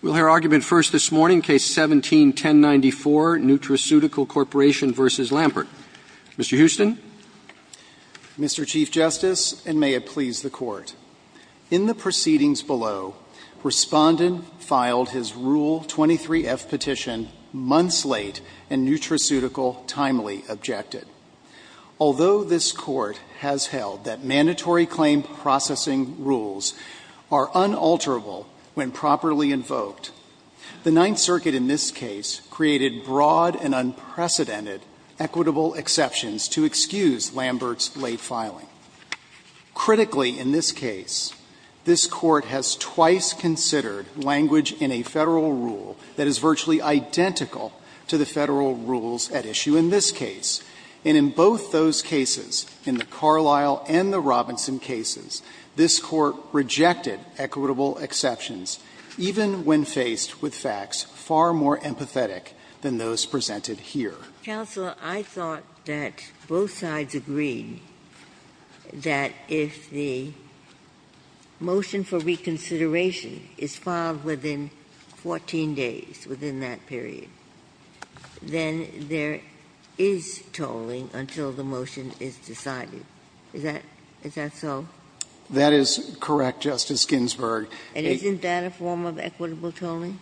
We'll hear argument first this morning, Case 17-1094, Nutraceutical Corporation v. Lambert. Mr. Houston. Mr. Chief Justice, and may it please the Court, in the proceedings below, Respondent filed his Rule 23-F petition months late and Nutraceutical timely objected. Although this Court has held that mandatory claim processing rules are unalterable when properly invoked, the Ninth Circuit in this case created broad and unprecedented equitable exceptions to excuse Lambert's late filing. Critically, in this case, this Court has twice considered language in a Federal rule that is virtually identical to the Federal rules at issue in this case. And in both those cases, in the Carlisle and the Robinson cases, this Court rejected equitable exceptions, even when faced with facts far more empathetic than those presented here. Ginsburg. I thought that both sides agreed that if the motion for reconsideration is filed within 14 days, within that period, then there is tolling until the motion is decided. Is that so? That is correct, Justice Ginsburg. And isn't that a form of equitable tolling?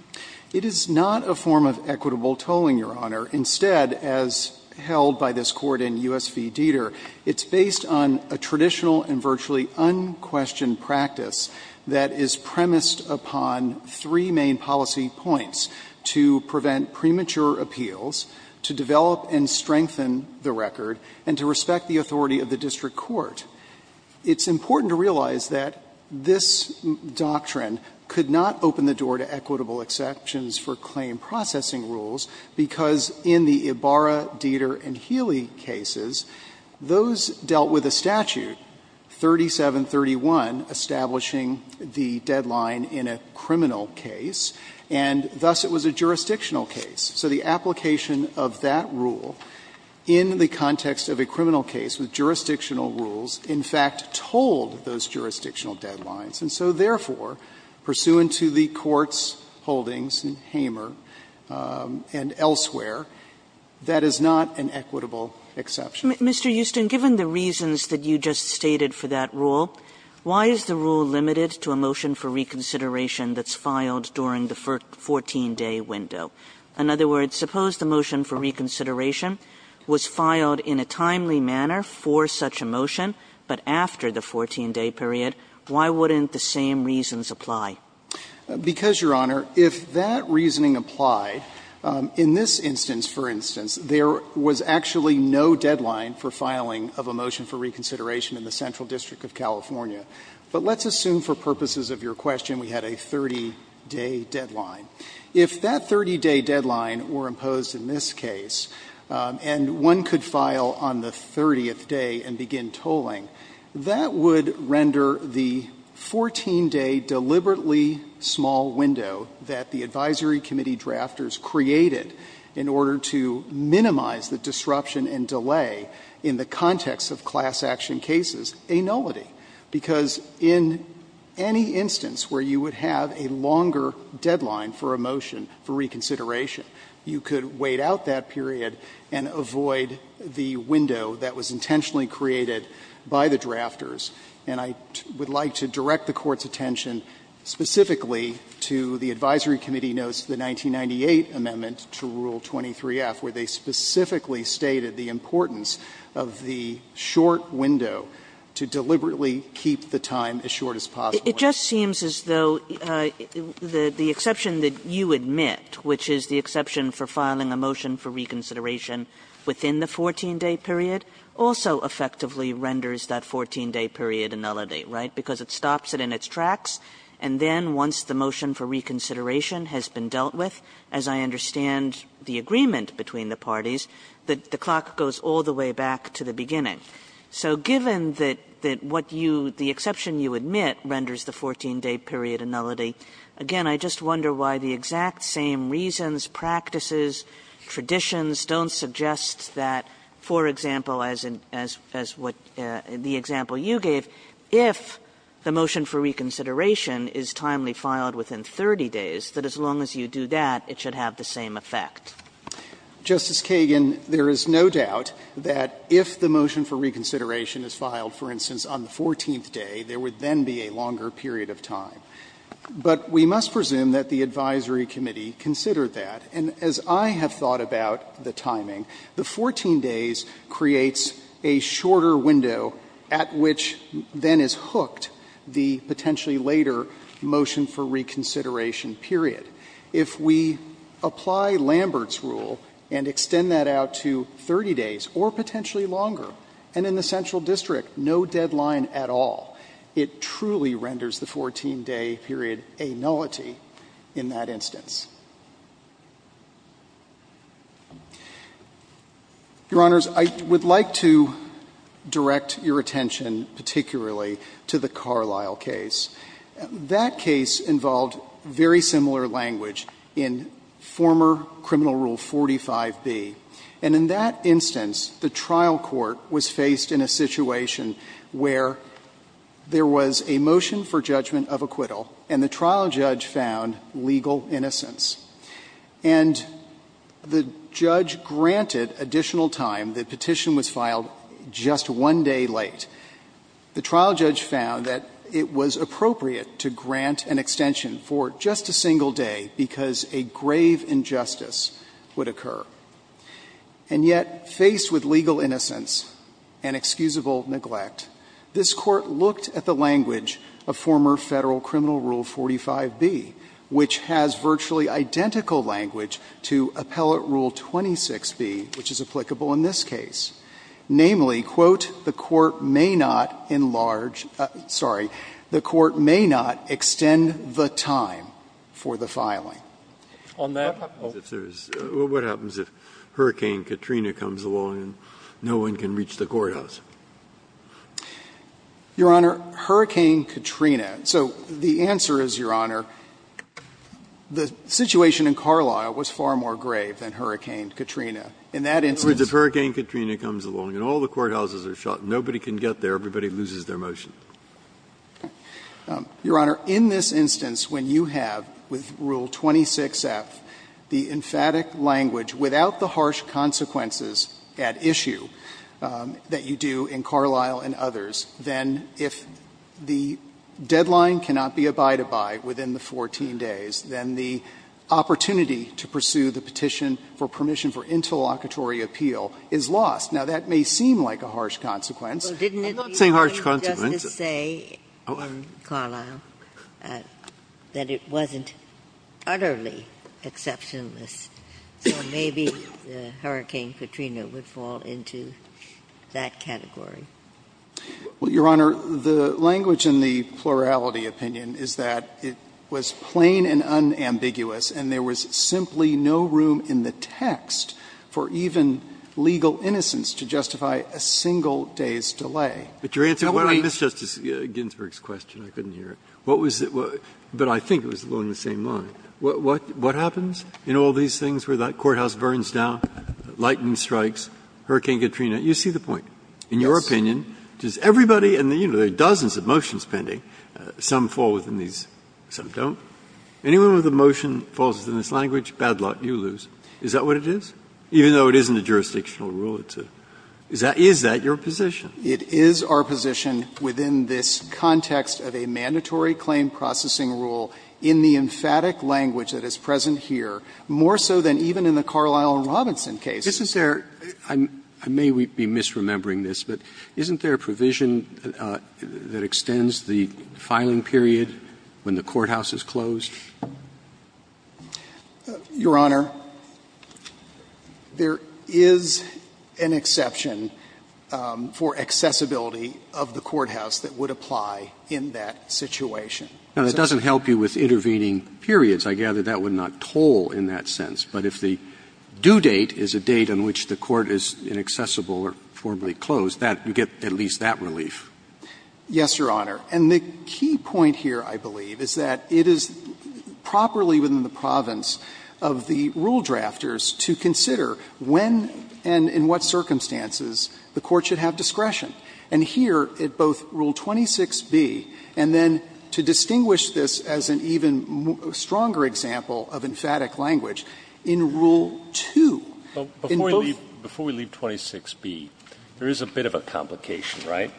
It is not a form of equitable tolling, Your Honor. Instead, as held by this Court in U.S. v. Dieter, it's based on a traditional and virtually unquestioned practice that is premised upon three main policy points to prevent premature appeals, to develop and strengthen the record, and to respect the authority of the district court. It's important to realize that this doctrine could not open the door to equitable exceptions for claim processing rules, because in the Ibarra, Dieter, and Healy cases, those dealt with a statute, 3731, establishing the deadline in a criminal case, and thus it was a jurisdictional case. So the application of that rule in the context of a criminal case with jurisdictional rules in fact told those jurisdictional deadlines. And so, therefore, pursuant to the Court's holdings in Hamer and elsewhere, that is not an equitable exception. Kagan. Mr. Houston, given the reasons that you just stated for that rule, why is the rule limited to a motion for reconsideration that's filed during the 14-day window? In other words, suppose the motion for reconsideration was filed in a timely manner for such a motion, but after the 14-day period, why wouldn't the same reasons apply? Because, Your Honor, if that reasoning applied, in this instance, for instance, there was actually no deadline for filing of a motion for reconsideration in the Central District of California. But let's assume for purposes of your question we had a 30-day deadline. If that 30-day deadline were imposed in this case, and one could file on the 30th day and begin tolling, that would render the 14-day deliberately small window that the advisory committee drafters created in order to minimize the disruption and delay in the context of class action cases a nullity, because in any instance where you would have a longer deadline for a motion for reconsideration, you could wait out that period and avoid the window that was intentionally created by the drafters. And I would like to direct the Court's attention specifically to the advisory committee notes to the 1998 amendment to Rule 23-F, where they specifically stated the importance of the short window to deliberately keep the time as short as possible. Kagan. Kagan. Kagan. It just seems as though the exception that you admit, which is the exception for filing a motion for reconsideration within the 14-day period, also effectively renders that 14-day period a nullity, right? Because it stops it in its tracks, and then once the motion for reconsideration has been dealt with, as I understand the agreement between the parties, the clock goes all the way back to the beginning. So given that what you the exception you admit renders the 14-day period a nullity, again, I just wonder why the exact same reasons, practices, traditions don't suggest that, for example, as in as what the example you gave, if the motion for reconsideration is timely filed within 30 days, that as long as you do that, it should have the same effect. Kagan, there is no doubt that if the motion for reconsideration is filed, for instance, on the 14th day, there would then be a longer period of time. But we must presume that the advisory committee considered that. And as I have thought about the timing, the 14 days creates a shorter window at which then is hooked the potentially later motion for reconsideration period. If we apply Lambert's rule and extend that out to 30 days or potentially longer, and in the central district no deadline at all, it truly renders the 14-day period a nullity in that instance. Your Honors, I would like to direct your attention particularly to the Carlisle case. That case involved very similar language in former Criminal Rule 45b. And in that instance, the trial court was faced in a situation where there was a motion for judgment of acquittal and the trial judge found legal innocence. And the judge granted additional time. The petition was filed just one day late. The trial judge found that it was appropriate to grant an extension for just a single day because a grave injustice would occur. And yet, faced with legal innocence and excusable neglect, this Court looked at the language of former Federal Criminal Rule 45b, which has virtually identical language to Appellate Rule 26b, which is applicable in this case. Namely, quote, the Court may not enlarge the Court may not extend the time for the Breyer, what happens if Hurricane Katrina comes along and no one can reach the courthouse? Your Honor, Hurricane Katrina. So the answer is, Your Honor, the situation in Carlisle was far more grave than Hurricane Katrina. In that instance. Breyer, Hurricane Katrina comes along and all the courthouses are shut. Nobody can get there. Everybody loses their motion. Your Honor, in this instance, when you have, with Rule 26f, the emphatic language without the harsh consequences at issue that you do in Carlisle and others, then if the deadline cannot be abided by within the 14 days, then the opportunity to pursue the petition for permission for interlocutory appeal is lost. Now, that may seem like a harsh consequence. I'm not saying harsh consequences. Ginsburg. Didn't it be wrong just to say in Carlisle that it wasn't utterly exceptionalist? So maybe Hurricane Katrina would fall into that category. Well, Your Honor, the language in the plurality opinion is that it was plain and unambiguous, and there was simply no room in the text for even legal innocence to justify a single day's delay. But your answer to Justice Ginsburg's question, I couldn't hear it, what was it was – but I think it was along the same line. What happens in all these things where that courthouse burns down, lightning strikes, Hurricane Katrina? You see the point. In your opinion, does everybody – and, you know, there are dozens of motions pending, some fall within these, some don't. Anyone with a motion that falls within this language, bad luck, you lose. Is that what it is? Even though it isn't a jurisdictional rule, it's a – is that your position? It is our position within this context of a mandatory claim processing rule in the emphatic language that is present here, more so than even in the Carlisle and Robinson case. This is their – I may be misremembering this, but isn't there a provision that extends the filing period when the courthouse is closed? Your Honor, there is an exception for accessibility of the courthouse that would apply in that situation. Now, that doesn't help you with intervening periods. I gather that would not toll in that sense. But if the due date is a date on which the court is inaccessible or formally closed, that – you get at least that relief. Yes, Your Honor. And the key point here, I believe, is that it is properly within the province of the rule drafters to consider when and in what circumstances the court should have discretion. And here, at both Rule 26b and then to distinguish this as an even stronger example of emphatic language, in Rule 2, in both of those cases, there is a discretion that is a bit of a complication, right?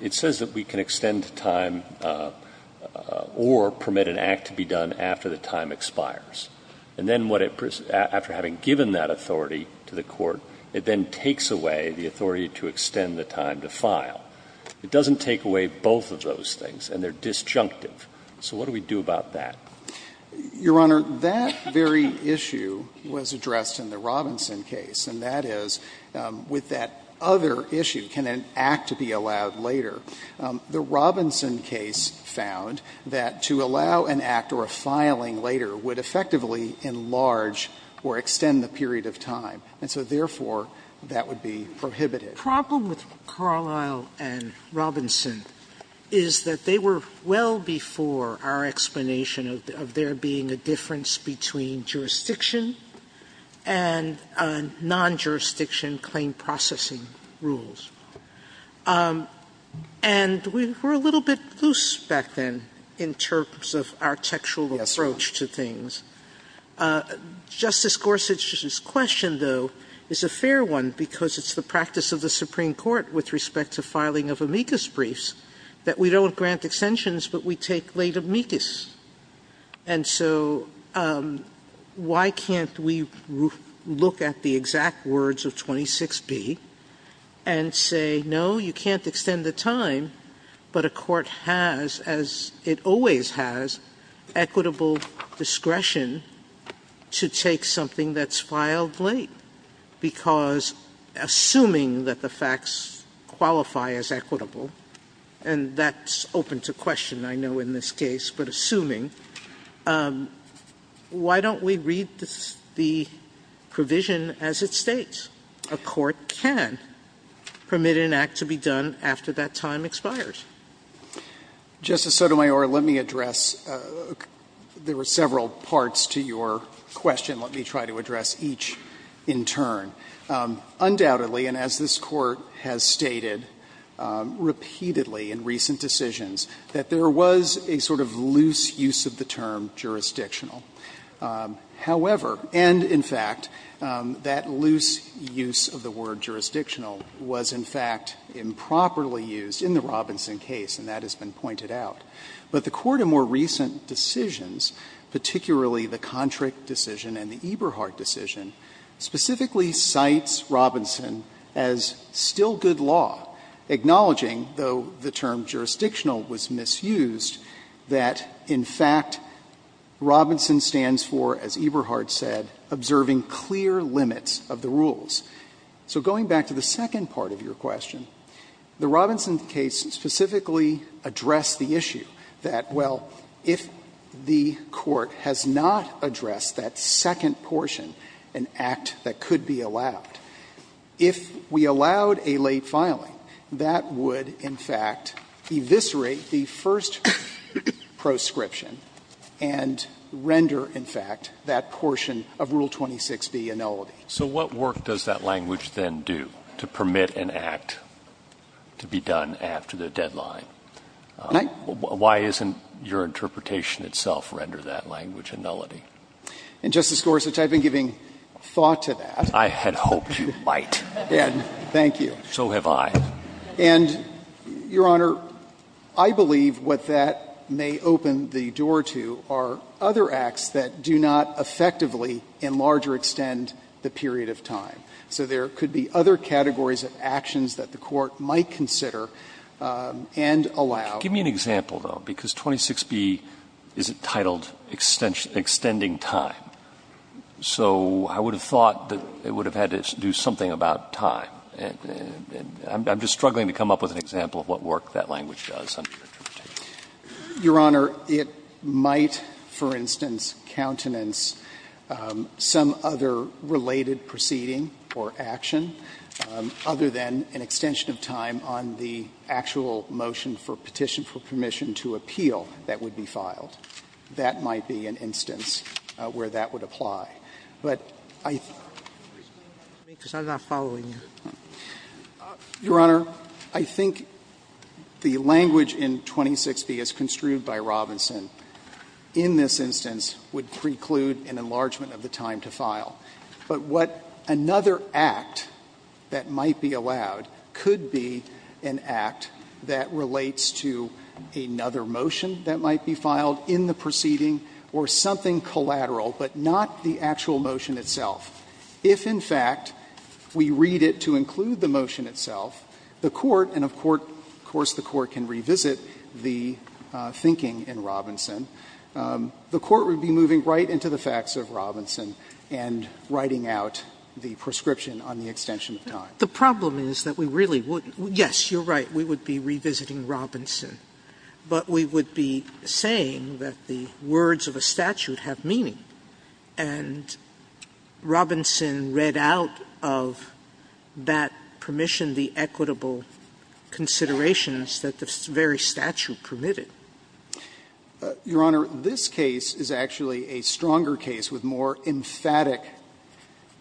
It says that we can extend time or permit an act to be done after the time expires. And then what it – after having given that authority to the court, it then takes away the authority to extend the time to file. It doesn't take away both of those things, and they are disjunctive. So what do we do about that? Your Honor, that very issue was addressed in the Robinson case, and that is, with that other issue, can an act be allowed later? The Robinson case found that to allow an act or a filing later would effectively enlarge or extend the period of time, and so, therefore, that would be prohibited. Sotomayor, Problem with Carlisle and Robinson is that they were well before our explanation of there being a difference between jurisdiction and non-jurisdiction claim processing rules. And we were a little bit loose back then in terms of our textual approach to things. Justice Gorsuch's question, though, is a fair one because it's the practice of the Supreme Court with respect to filing of amicus briefs that we don't grant extensions, but we take late amicus. And so why can't we look at the exact words of 26B and say, no, you can't extend the time, but a court has, as it always has, equitable discretion to take something that's filed late because, assuming that the facts qualify as equitable, and that's open to question, I know, in this case, but assuming, why don't we read the provision as it states? A court can permit an act to be done after that time expires. Justice Sotomayor, let me address there were several parts to your question. Let me try to address each in turn. Undoubtedly, and as this Court has stated repeatedly in recent decisions, that there was a sort of loose use of the term jurisdictional. However, and in fact, that loose use of the word jurisdictional was, in fact, improperly used in the Robinson case, and that has been pointed out. But the Court in more recent decisions, particularly the Kontryk decision and the Robinson case, cites Robinson as still good law, acknowledging, though the term jurisdictional was misused, that, in fact, Robinson stands for, as Eberhard said, observing clear limits of the rules. So going back to the second part of your question, the Robinson case specifically addressed the issue that, well, if the Court has not addressed that second portion of the question, an act that could be allowed, if we allowed a late filing, that would, in fact, eviscerate the first proscription and render, in fact, that portion of Rule 26b a nullity. So what work does that language then do to permit an act to be done after the deadline? Why isn't your interpretation itself render that language a nullity? And, Justice Gorsuch, I've been giving thought to that. I had hoped you might. Thank you. So have I. And, Your Honor, I believe what that may open the door to are other acts that do not effectively enlarge or extend the period of time. So there could be other categories of actions that the Court might consider and allow. Give me an example, though, because 26b is entitled extending time. So I would have thought that it would have had to do something about time. I'm just struggling to come up with an example of what work that language does under your interpretation. Your Honor, it might, for instance, countenance some other related proceeding or action other than an extension of time on the actual motion for petition for permission to appeal that would be filed. That might be an instance where that would apply. But I think the language in 26b as construed by Robinson in this instance would preclude an enlargement of the time to file. But what another act that might be allowed could be an act that relates to another motion that might be filed in the proceeding or something collateral, but not the actual motion itself. If, in fact, we read it to include the motion itself, the Court, and of course the Court can revisit the thinking in Robinson, the Court would be moving right to the facts of Robinson and writing out the prescription on the extension Sotomayor, The problem is that we really wouldn't. Yes, you're right. We would be revisiting Robinson, but we would be saying that the words of a statute have meaning, and Robinson read out of that permission the equitable considerations that the very statute permitted. Your Honor, this case is actually a stronger case with more emphatic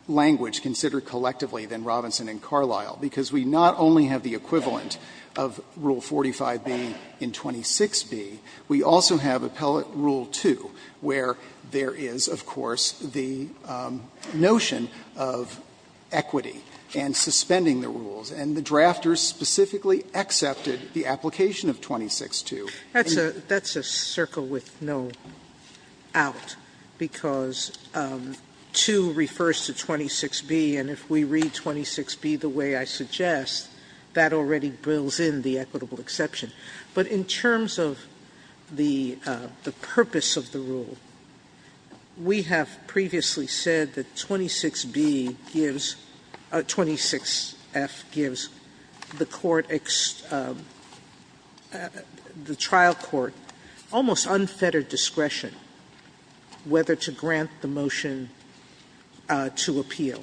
language considered collectively than Robinson and Carlisle, because we not only have the equivalent of Rule 45b in 26b, we also have Appellate Rule 2, where there is, of course, the notion of equity and suspending the rules. And the drafters specifically accepted the application of 262. That's a circle with no out, because 2 refers to 26b, and if we read 26b the way I suggest, that already builds in the equitable exception. But in terms of the purpose of the rule, we have previously said that 26b gives 26f gives the court, the trial court, almost unfettered discretion whether to grant the motion to appeal.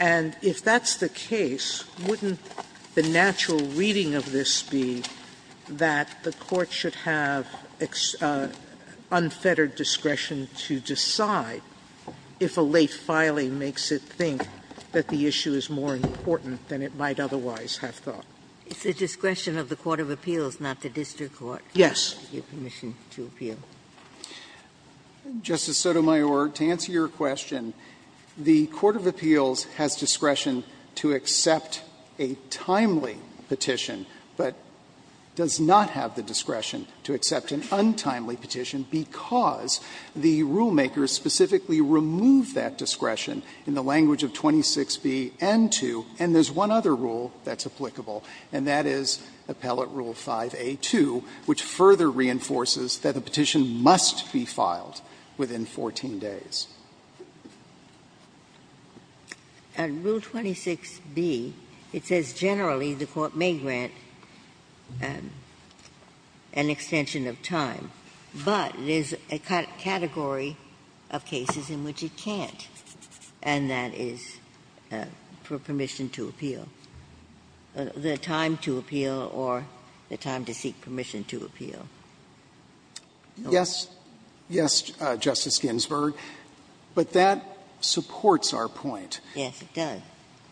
And if that's the case, wouldn't the natural reading of this be that the court should have unfettered discretion to decide if a late filing makes it think that the issue is more important than it might otherwise have thought? Ginsburg. It's the discretion of the court of appeals, not the district court. Yes. To give permission to appeal. Justice Sotomayor, to answer your question, the court of appeals has discretion to accept a timely petition, but does not have the discretion to accept an untimely petition because the rulemakers specifically remove that discretion in the language of 26b and 2, and there's one other rule that's applicable, and that is Appellate Rule 5a2, which further reinforces that a petition must be filed within 14 days. And Rule 26b, it says generally the court may grant an extension of time, but there's a category of cases in which it can't, and that is for permission to appeal, the time to appeal or the time to seek permission to appeal. Yes, yes, Justice Ginsburg, but that supports our point. Yes, it does.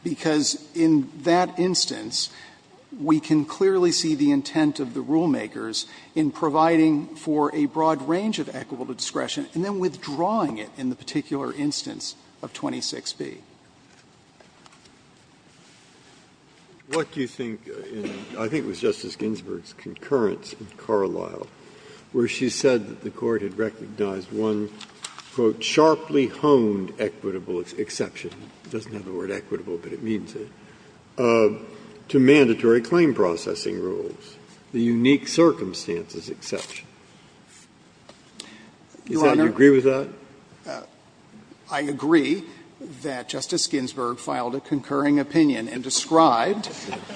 Because in that instance, we can clearly see the intent of the rulemakers in providing for a broad range of equitable discretion and then withdrawing it in the particular instance of 26b. Breyer. What do you think, and I think it was Justice Ginsburg's concurrence in Carlisle, where she said that the court had recognized one, quote, sharply honed equitable exception. It doesn't have the word equitable, but it means it. To mandatory claim processing rules, the unique circumstances exception. Do you agree with that? I agree that Justice Ginsburg filed a concurring opinion and described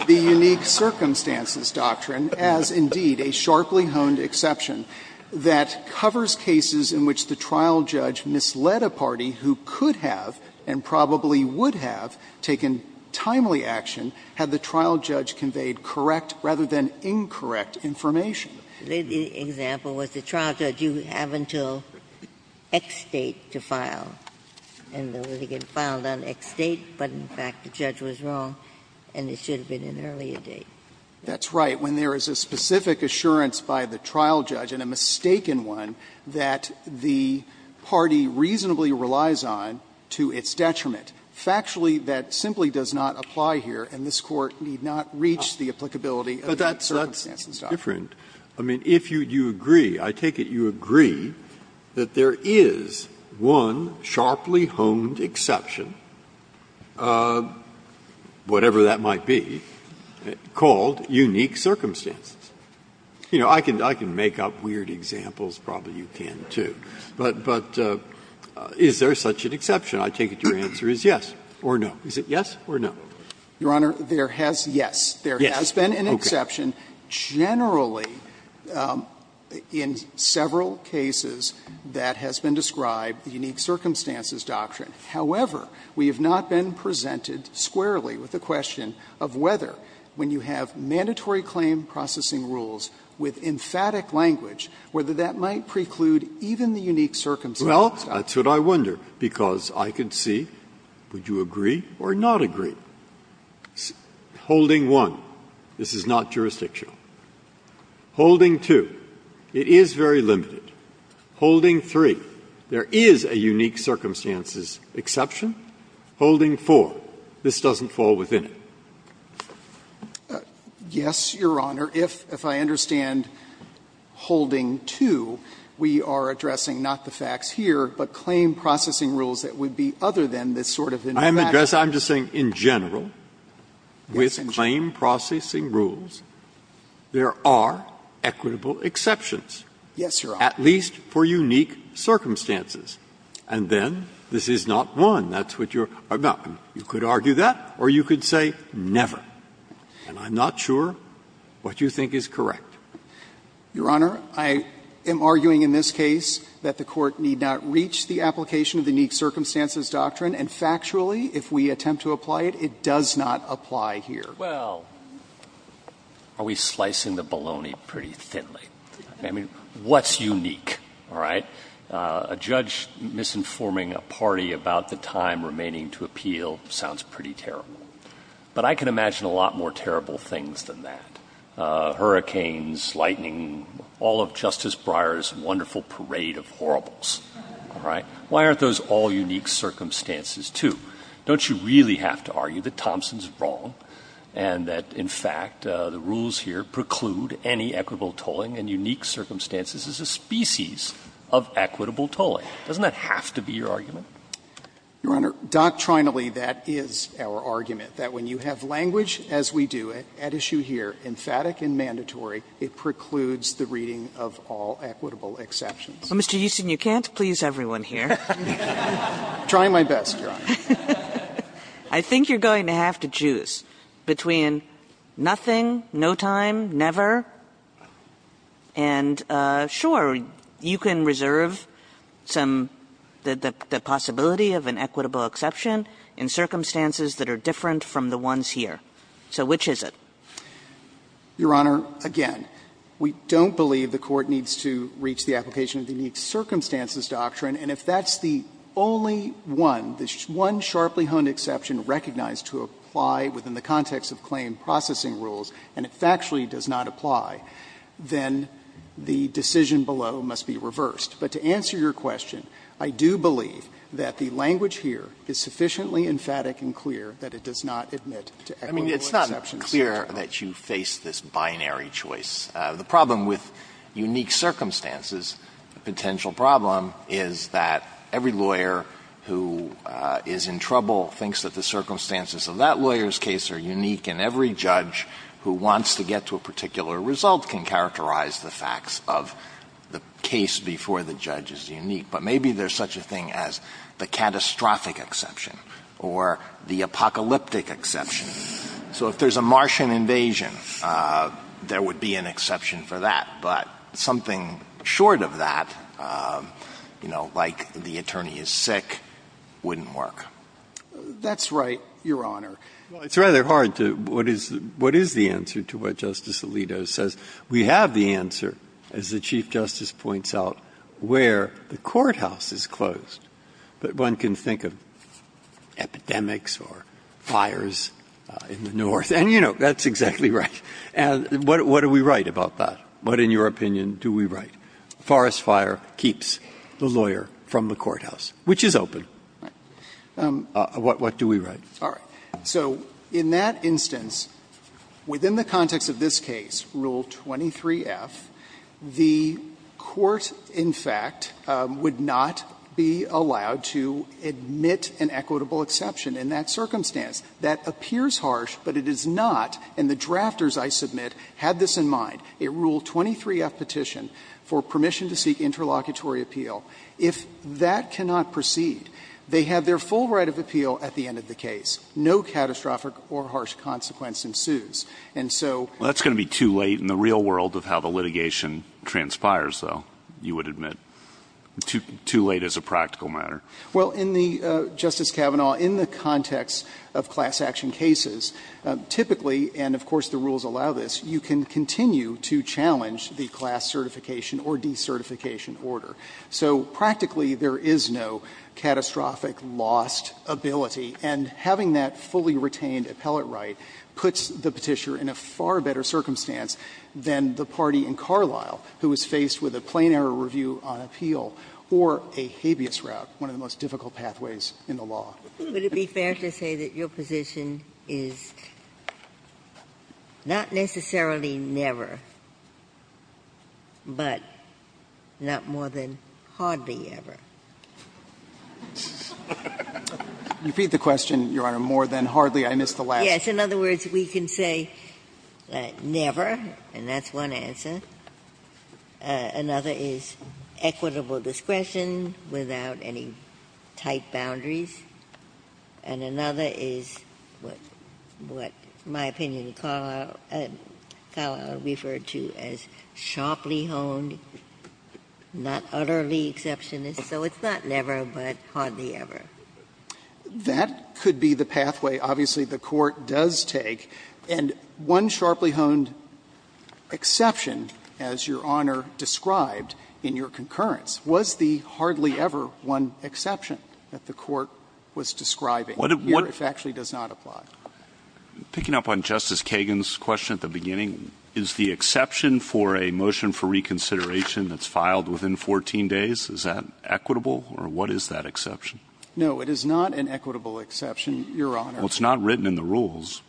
the unique circumstances doctrine as indeed a sharply honed exception that covers cases in which the trial judge misled a party who could have and probably would have taken timely action had the trial judge conveyed correct rather than incorrect information. Ginsburg's example was the trial judge, you have until X date to file, and the litigant filed on X date, but in fact the judge was wrong and it should have been an earlier date. That's right. When there is a specific assurance by the trial judge and a mistaken one that the party reasonably relies on to its detriment, factually that simply does not apply here and this Court need not reach the applicability of that circumstances doctrine. Breyer. I mean, if you agree, I take it you agree that there is one sharply honed exception, whatever that might be, called unique circumstances. You know, I can make up weird examples, probably you can too, but is there such an exception? I take it your answer is yes or no. Is it yes or no? Your Honor, there has been an exception. Generally, in several cases, that has been described, the unique circumstances doctrine. However, we have not been presented squarely with the question of whether, when you have mandatory claim processing rules with emphatic language, whether that might preclude even the unique circumstances doctrine. Well, that's what I wonder, because I can see, would you agree or not agree? Holding 1, this is not jurisdictional. Holding 2, it is very limited. Holding 3, there is a unique circumstances exception. Holding 4, this doesn't fall within it. Yes, Your Honor. If I understand holding 2, we are addressing not the facts here, but claim processing rules that would be other than this sort of emphatic. I'm addressing, I'm just saying in general, with claim processing rules, there are equitable exceptions. Yes, Your Honor. At least for unique circumstances. And then, this is not 1, that's what you're arguing. You could argue that, or you could say never. And I'm not sure what you think is correct. Your Honor, I am arguing in this case that the Court need not reach the application of the unique circumstances doctrine, and factually, if we attempt to apply it, it does not apply here. Well, are we slicing the bologna pretty thinly? I mean, what's unique, all right? A judge misinforming a party about the time remaining to appeal sounds pretty terrible. But I can imagine a lot more terrible things than that. Hurricanes, lightning, all of Justice Breyer's wonderful parade of horribles. All right? Why aren't those all unique circumstances, too? Don't you really have to argue that Thompson's wrong and that, in fact, the rules here preclude any equitable tolling and unique circumstances as a species of equitable tolling? Doesn't that have to be your argument? Your Honor, doctrinally, that is our argument, that when you have language, as we do at issue here, emphatic and mandatory, it precludes the reading of all equitable exceptions. Mr. Euston, you can't please everyone here. I'm trying my best, Your Honor. I think you're going to have to choose between nothing, no time, never, and, sure, you can reserve some of the possibility of an equitable exception in circumstances that are different from the ones here. So which is it? Your Honor, again, we don't believe the Court needs to reach the application of the unique circumstances doctrine, and if that's the only one, the one sharply honed exception recognized to apply within the context of claim processing rules, and it factually does not apply, then the decision below must be reversed. But to answer your question, I do believe that the language here is sufficiently emphatic and clear that it does not admit to equitable exceptions. I mean, it's not clear that you face this binary choice. The problem with unique circumstances, the potential problem, is that every lawyer who is in trouble thinks that the circumstances of that lawyer's case are unique, and every judge who wants to get to a particular result can characterize the facts of the case before the judge is unique. But maybe there's such a thing as the catastrophic exception or the apocalyptic exception. So if there's a Martian invasion, there would be an exception for that. But something short of that, you know, like the attorney is sick, wouldn't work. That's right, Your Honor. Well, it's rather hard to what is the answer to what Justice Alito says. We have the answer, as the Chief Justice points out, where the courthouse is closed. But one can think of epidemics or fires in the north, and, you know, that's exactly right. And what do we write about that? What, in your opinion, do we write? Forest fire keeps the lawyer from the courthouse, which is open. What do we write? All right. So in that instance, within the context of this case, Rule 23f, the court, in fact, would not be allowed to admit an equitable exception in that circumstance. That appears harsh, but it is not. And the drafters, I submit, had this in mind. It ruled 23f petition for permission to seek interlocutory appeal. If that cannot proceed, they have their full right of appeal at the end of the case. No catastrophic or harsh consequence ensues. And so that's going to be too late in the real world of how the litigation transpires, though, you would admit. Too late as a practical matter. Well, in the, Justice Kavanaugh, in the context of class action cases, typically and, of course, the rules allow this, you can continue to challenge the class certification or decertification order. So practically, there is no catastrophic lost ability. And having that fully retained appellate right puts the Petitioner in a far better circumstance than the party in Carlisle, who is faced with a plain error review on appeal or a habeas route, one of the most difficult pathways in the law. Ginsburg. Would it be fair to say that your position is not necessarily never, but not more than hardly ever? You repeat the question, Your Honor, more than hardly. I missed the last. Yes. In other words, we can say never, and that's one answer. Another is equitable discretion without any tight boundaries. And another is what, in my opinion, Carlisle referred to as sharply honed, not utterly exceptionist, so it's not never, but hardly ever. That could be the pathway. Obviously, the Court does take. And one sharply honed exception, as Your Honor described in your concurrence, was the hardly ever one exception that the Court was describing here, if it actually does not apply. Picking up on Justice Kagan's question at the beginning, is the exception for a motion for reconsideration that's filed within 14 days, is that equitable, or what is that exception? No, it is not an equitable exception, Your Honor. Well, it's not written in the rules.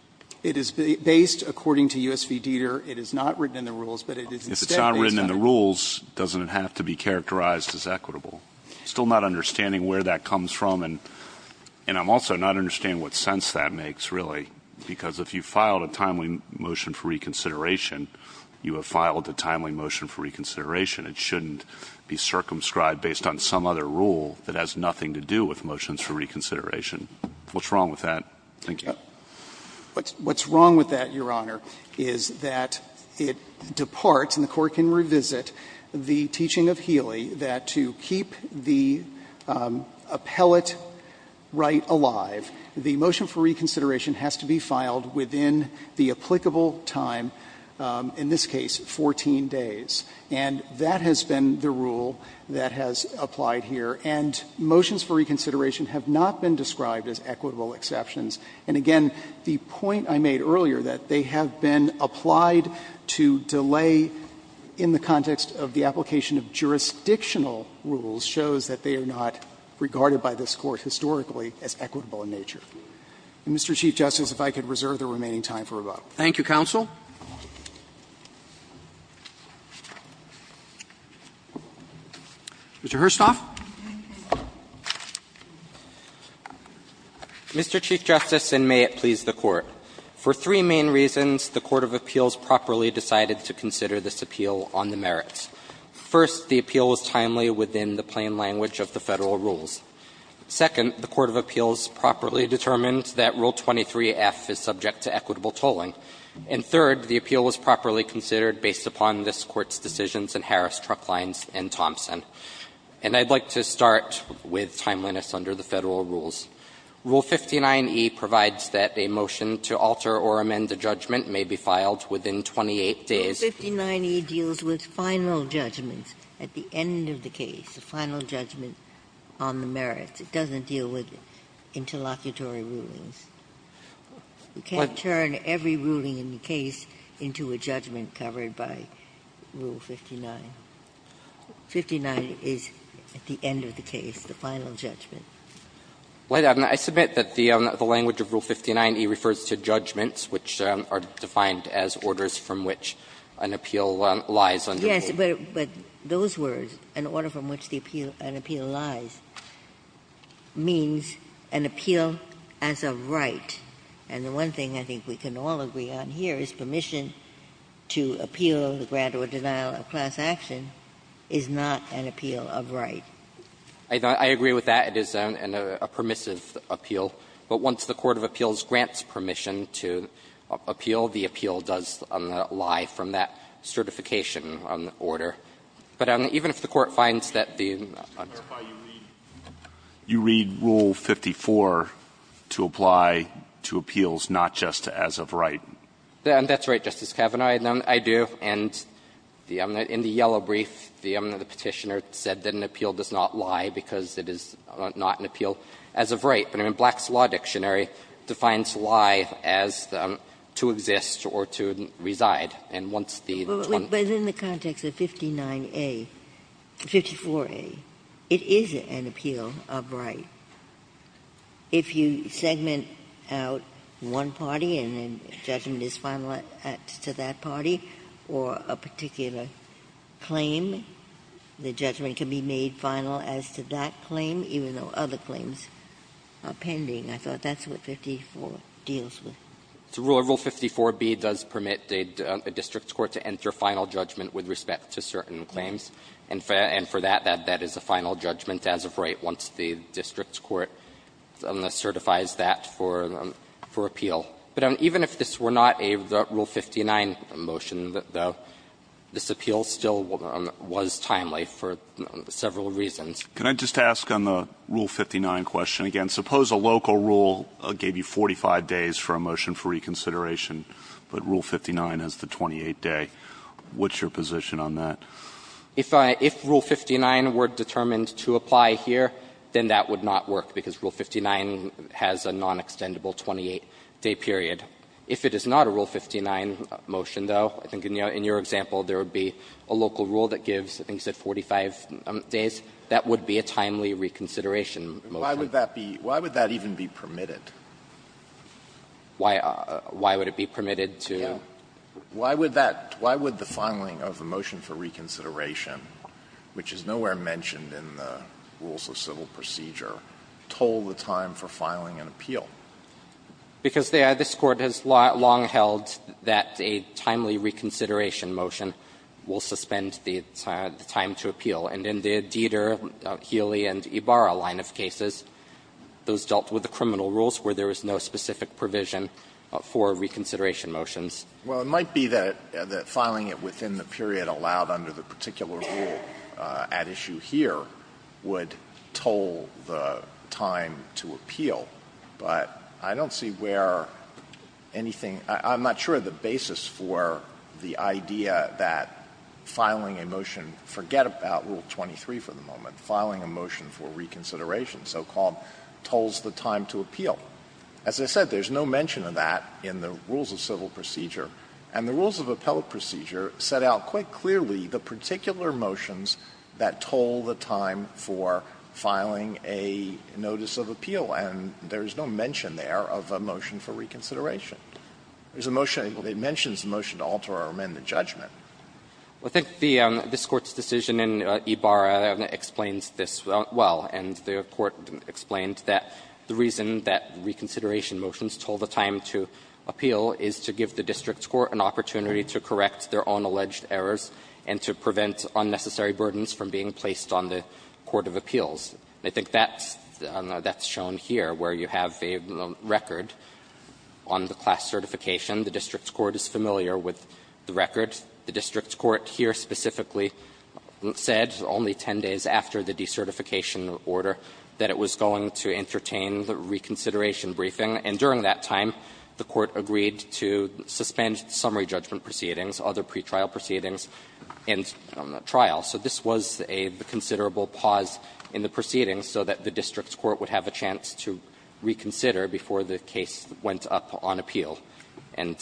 It is based, according to U.S. v. Dieter, it is not written in the rules, but it is instead based on the rules. If it's not written in the rules, doesn't it have to be characterized as equitable? I'm still not understanding where that comes from, and I'm also not understanding what sense that makes, really, because if you filed a timely motion for reconsideration, you have filed a timely motion for reconsideration. It shouldn't be circumscribed based on some other rule that has nothing to do with motions for reconsideration. What's wrong with that? Thank you. What's wrong with that, Your Honor, is that it departs, and the Court can revisit, the teaching of Healy that to keep the appellate right alive, the motion for reconsideration has to be filed within the applicable time, in this case 14 days. And that has been the rule that has applied here. And motions for reconsideration have not been described as equitable exceptions. And again, the point I made earlier, that they have been applied to delay in the context of the application of jurisdictional rules, shows that they are not regarded by this Court historically as equitable in nature. Mr. Chief Justice, if I could reserve the remaining time for rebuttal. Thank you, counsel. Mr. Herstoff. Mr. Chief Justice, and may it please the Court. For three main reasons, the court of appeals properly decided to consider this appeal on the merits. First, the appeal was timely within the plain language of the Federal rules. Second, the court of appeals properly determined that Rule 23F is subject to equitable tolling. And third, the appeal was properly considered based upon this Court's decisions in Harris, Trucklines, and Thompson. And I'd like to start with timeliness under the Federal rules. Rule 59e provides that a motion to alter or amend a judgment may be filed within 28 days. Ginsburg. Rule 59e deals with final judgments at the end of the case, the final judgment on the merits. It doesn't deal with interlocutory rulings. You can't turn every ruling in the case into a judgment covered by Rule 59. 59 is at the end of the case, the final judgment. I submit that the language of Rule 59e refers to judgments, which are defined as orders from which an appeal lies under the rule. Yes, but those words, an order from which an appeal lies, means an appeal as of right and the one thing I think we can all agree on here is permission to appeal the grant or denial of class action is not an appeal of right. I agree with that. It is a permissive appeal. But once the court of appeals grants permission to appeal, the appeal does lie from that certification on the order. But even if the Court finds that the uncertainty is there, I'm not going to argue that an appeal does not lie to appeals, not just as of right. That's right, Justice Kavanaugh, I do. And in the yellow brief, the Petitioner said that an appeal does not lie because it is not an appeal as of right. But in Black's Law Dictionary, it defines lie as to exist or to reside. And once the 20th. But in the context of 59a, 54a, it is an appeal of right. If you segment out one party and a judgment is finalized to that party or a particular claim, the judgment can be made final as to that claim, even though other claims are pending. I thought that's what 54 deals with. It's a rule that Rule 54b does permit a district court to enter final judgment with respect to certain claims. And for that, that is a final judgment as of right once the district court certifies that for appeal. But even if this were not a Rule 59 motion, though, this appeal still was timely for several reasons. Can I just ask on the Rule 59 question again, suppose a local rule gave you 45 days for a motion for reconsideration, but Rule 59 has the 28-day, what's your position on that? If Rule 59 were determined to apply here, then that would not work, because Rule 59 has a non-extendable 28-day period. If it is not a Rule 59 motion, though, I think in your example there would be a local rule that gives, I think you said 45 days, that would be a timely reconsideration motion. Alito Why would that even be permitted? Why would it be permitted to? Alito Why would that, why would the filing of a motion for reconsideration, which is nowhere mentioned in the rules of civil procedure, toll the time for filing an appeal? Because this Court has long held that a timely reconsideration motion will suspend the time to appeal. And in the Deder, Healy, and Ibarra line of cases, those dealt with the criminal rules where there was no specific provision for reconsideration motions. Alito Well, it might be that filing it within the period allowed under the particular rule at issue here would toll the time to appeal, but I don't see where anything – I'm not sure of the basis for the idea that filing a motion, forget about Rule 23 for the moment, filing a motion for reconsideration, so-called, tolls the time to appeal. As I said, there's no mention of that in the rules of civil procedure. And the rules of appellate procedure set out quite clearly the particular motions that toll the time for filing a notice of appeal, and there is no mention there of a motion for reconsideration. There's a motion that mentions a motion to alter or amend the judgment. I think the – this Court's decision in Ibarra explains this well, and the Court explained that the reason that reconsideration motions toll the time to appeal is to give the district court an opportunity to correct their own alleged errors and to prevent unnecessary burdens from being placed on the court of appeals. I think that's shown here, where you have a record on the class certification. The district court is familiar with the record. The district court here specifically said, only 10 days after the decertification order, that it was going to entertain the reconsideration briefing, and during that time, the court agreed to suspend summary judgment proceedings, other pretrial proceedings, and trial. So this was a considerable pause in the proceedings so that the district court would have a chance to reconsider before the case went up on appeal. And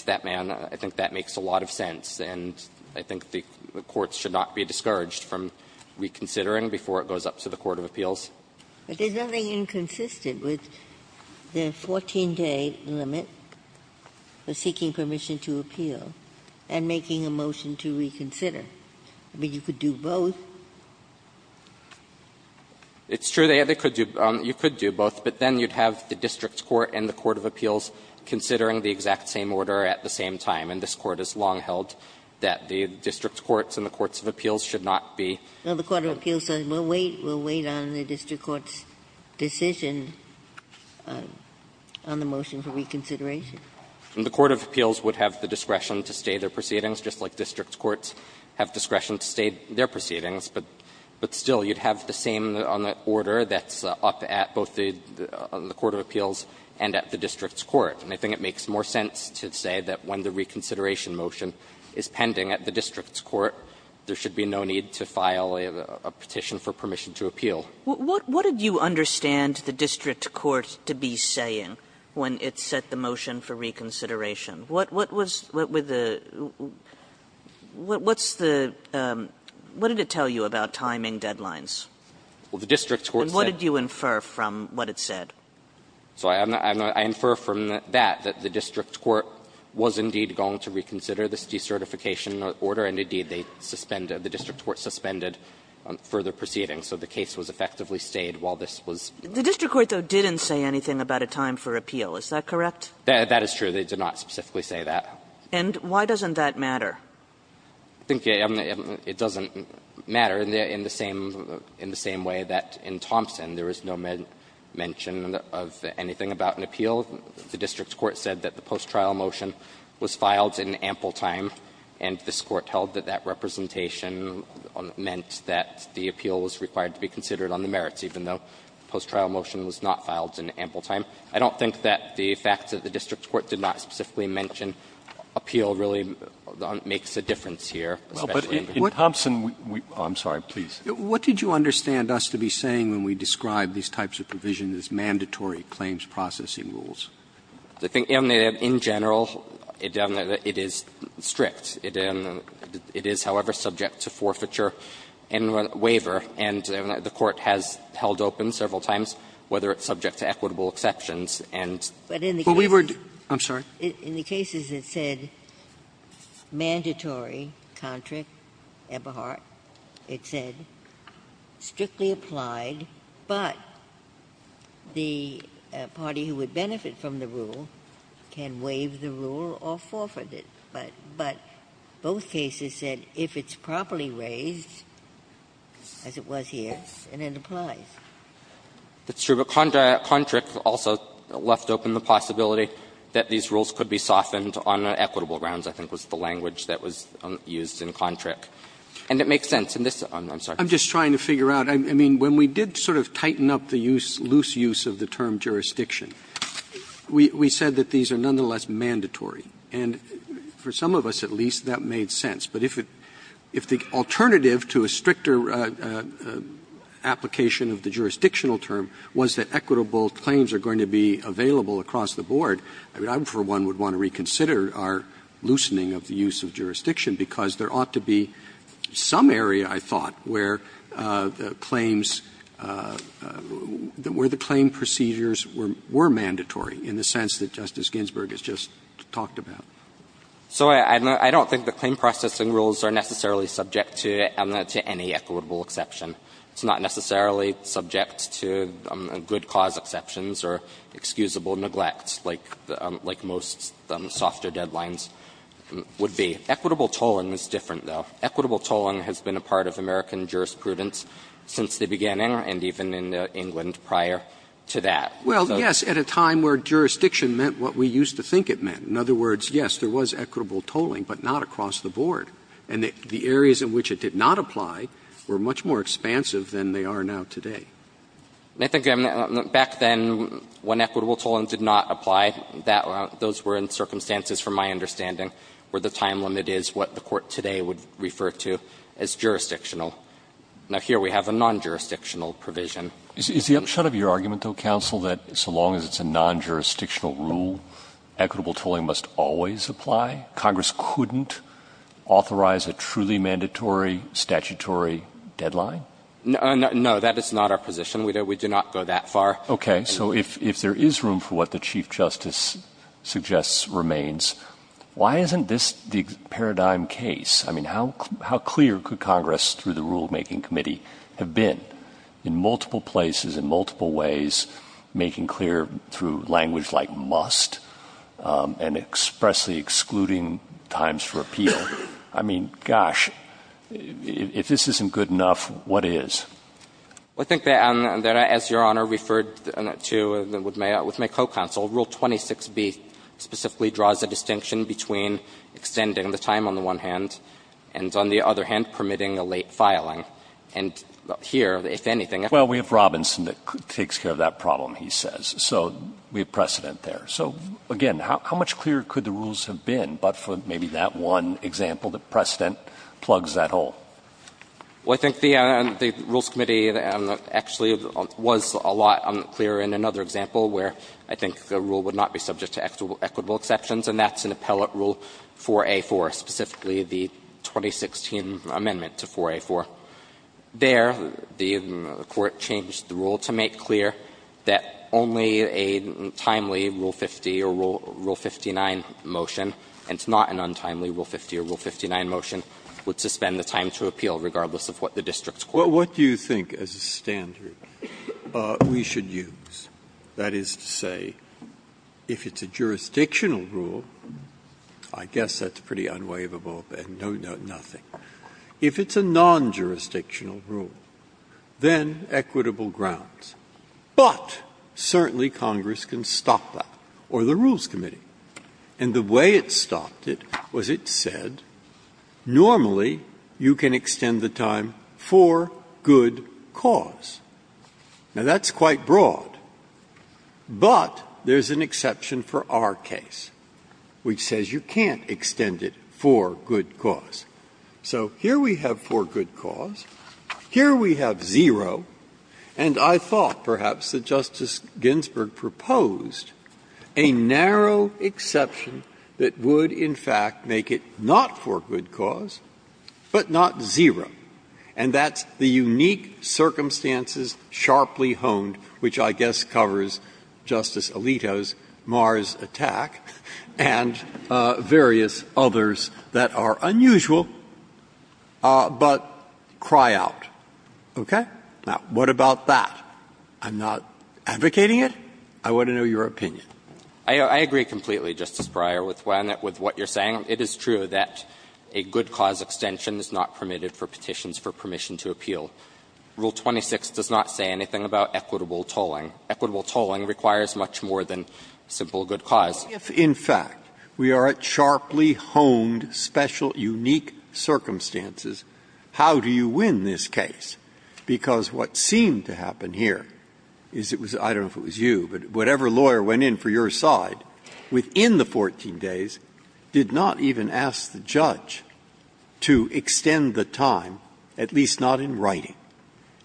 I think the courts should not be discouraged from reconsidering before it goes up to the court of appeals. Ginsburg-Millette, but there's nothing inconsistent with the 14-day limit for seeking permission to appeal and making a motion to reconsider. I mean, you could do both. It's true, they could do – you could do both, but then you'd have the district court and the court of appeals considering the exact same order at the same time, and this Court has long held that the district courts and the courts of appeals should not be. Ginsburg-Millette, but the court of appeals says, we'll wait, we'll wait on the district court's decision on the motion for reconsideration. The court of appeals would have the discretion to stay their proceedings, just like district courts have discretion to stay their proceedings, but still, you'd have the same on the order that's up at both the court of appeals and at the district's court. And I think it makes more sense to say that when the reconsideration motion is pending at the district's court, there should be no need to file a petition for permission to appeal. Kagan. Kagan. What did you understand the district court to be saying when it set the motion for reconsideration? What was – what was the – what's the – what did it tell you about timing deadlines? Well, the district's court said – And what did you infer from what it said? So I'm not – I infer from that that the district court was indeed going to reconsider this decertification order, and indeed, they suspended – the district court suspended further proceedings. So the case was effectively stayed while this was going on. The district court, though, didn't say anything about a time for appeal. Is that correct? That is true. They did not specifically say that. And why doesn't that matter? I think it doesn't matter in the same – in the same way that in Thompson, there is no mention of anything about an appeal. The district court said that the post-trial motion was filed in ample time, and this court held that that representation meant that the appeal was required to be considered on the merits, even though the post-trial motion was not filed in ample time. I don't think that the fact that the district court did not specifically mention appeal really makes a difference here, especially in Thompson. Well, but in Thompson, we – oh, I'm sorry, please. What did you understand us to be saying when we described these types of provisions as mandatory claims processing rules? I think in general, it is strict. It is, however, subject to forfeiture and waiver, and the Court has held open several times whether it's subject to equitable exceptions and – But in the cases – Well, we were – I'm sorry. In the cases, it said mandatory, Kontrick, Eberhardt, it said, strictly applied, but the party who would benefit from the rule can waive the rule or forfeit it. But – but both cases said if it's properly raised, as it was here, then it applies. That's true, but Kontrick also left open the possibility that these rules could be softened on equitable grounds, I think was the language that was used in Kontrick. And it makes sense in this – I'm sorry. I'm just trying to figure out. I mean, when we did sort of tighten up the use, loose use of the term jurisdiction, we said that these are nonetheless mandatory. And for some of us, at least, that made sense. But if it – if the alternative to a stricter application of the jurisdictional term was that equitable claims are going to be available across the board, I mean, I, for one, would want to reconsider our loosening of the use of jurisdiction, because there ought to be some area, I thought, where the claims – where the claim procedures were mandatory in the sense that Justice Ginsburg has just talked about. So I don't think the claim processing rules are necessarily subject to any equitable exception. It's not necessarily subject to good cause exceptions or excusable neglects like most softer deadlines would be. Equitable tolling is different, though. Equitable tolling has been a part of American jurisprudence since the beginning and even in England prior to that. Well, yes, at a time where jurisdiction meant what we used to think it meant. In other words, yes, there was equitable tolling, but not across the board. And the areas in which it did not apply were much more expansive than they are now today. I think back then when equitable tolling did not apply, that – those were in circumstances from my understanding where the time limit is what the Court today would refer to as jurisdictional. Now, here we have a non-jurisdictional provision. Is the upshot of your argument, though, counsel, that so long as it's a non-jurisdictional rule, equitable tolling must always apply? Congress couldn't authorize a truly mandatory statutory deadline? No, that is not our position. We do not go that far. Okay. So if there is room for what the Chief Justice suggests remains, why isn't this the paradigm case? I mean, how clear could Congress through the Rulemaking Committee have been in multiple places, in multiple ways, making clear through language like must, and expressly excluding times for appeal? I mean, gosh, if this isn't good enough, what is? I think that, as Your Honor referred to with my co-counsel, Rule 26b specifically draws a distinction between extending the time on the one hand and, on the other hand, permitting a late filing. And here, if anything, I think that's a good point. Well, we have Robinson that takes care of that problem, he says. So we have precedent there. So, again, how much clearer could the rules have been but for maybe that one example that precedent plugs that hole? Well, I think the Rules Committee actually was a lot clearer in another example where I think the rule would not be subject to equitable exceptions, and that's an appellate rule 4A4, specifically the 2016 amendment to 4A4. There, the Court changed the rule to make clear that only a timely Rule 50 or Rule 59 motion, and it's not an untimely Rule 50 or Rule 59 motion, would suspend the time to appeal regardless of what the district court said. Breyer. What do you think, as a standard, we should use? That is to say, if it's a jurisdictional rule, I guess that's pretty unwaivable and nothing. If it's a non-jurisdictional rule, then equitable grounds. But certainly Congress can stop that, or the Rules Committee. And the way it stopped it was it said, normally, you can extend the time for good cause. Now, that's quite broad, but there's an exception for our case, which says you can't extend it for good cause. So here we have for good cause, here we have zero, and I thought, perhaps, that Justice Ginsburg proposed a narrow exception that would, in fact, make it not for good cause, but not zero. And that's the unique circumstances sharply honed, which I guess covers Justice Ginsburg's view, but cry out, okay? Now, what about that? I'm not advocating it. I want to know your opinion. I agree completely, Justice Breyer, with what you're saying. It is true that a good cause extension is not permitted for petitions for permission to appeal. Rule 26 does not say anything about equitable tolling. Equitable tolling requires much more than simple good cause. Breyer. If, in fact, we are at sharply honed, special, unique circumstances, how do you win this case? Because what seemed to happen here is it was — I don't know if it was you, but whatever lawyer went in for your side within the 14 days did not even ask the judge to extend the time, at least not in writing.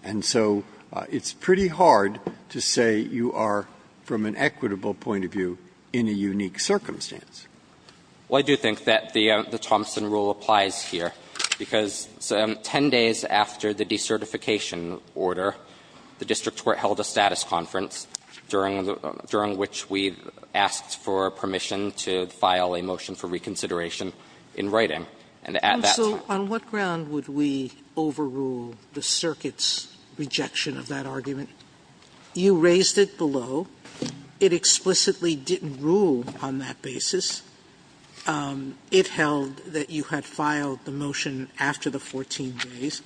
And so it's pretty hard to say you are, from an equitable point of view, in a unique circumstance. Well, I do think that the Thompson rule applies here, because 10 days after the decertification order, the district court held a status conference during which we asked for permission to file a motion for reconsideration in writing. And at that time — Sotomayor, you raised the circuit's rejection of that argument. You raised it below. It explicitly didn't rule on that basis. It held that you had filed the motion after the 14 days.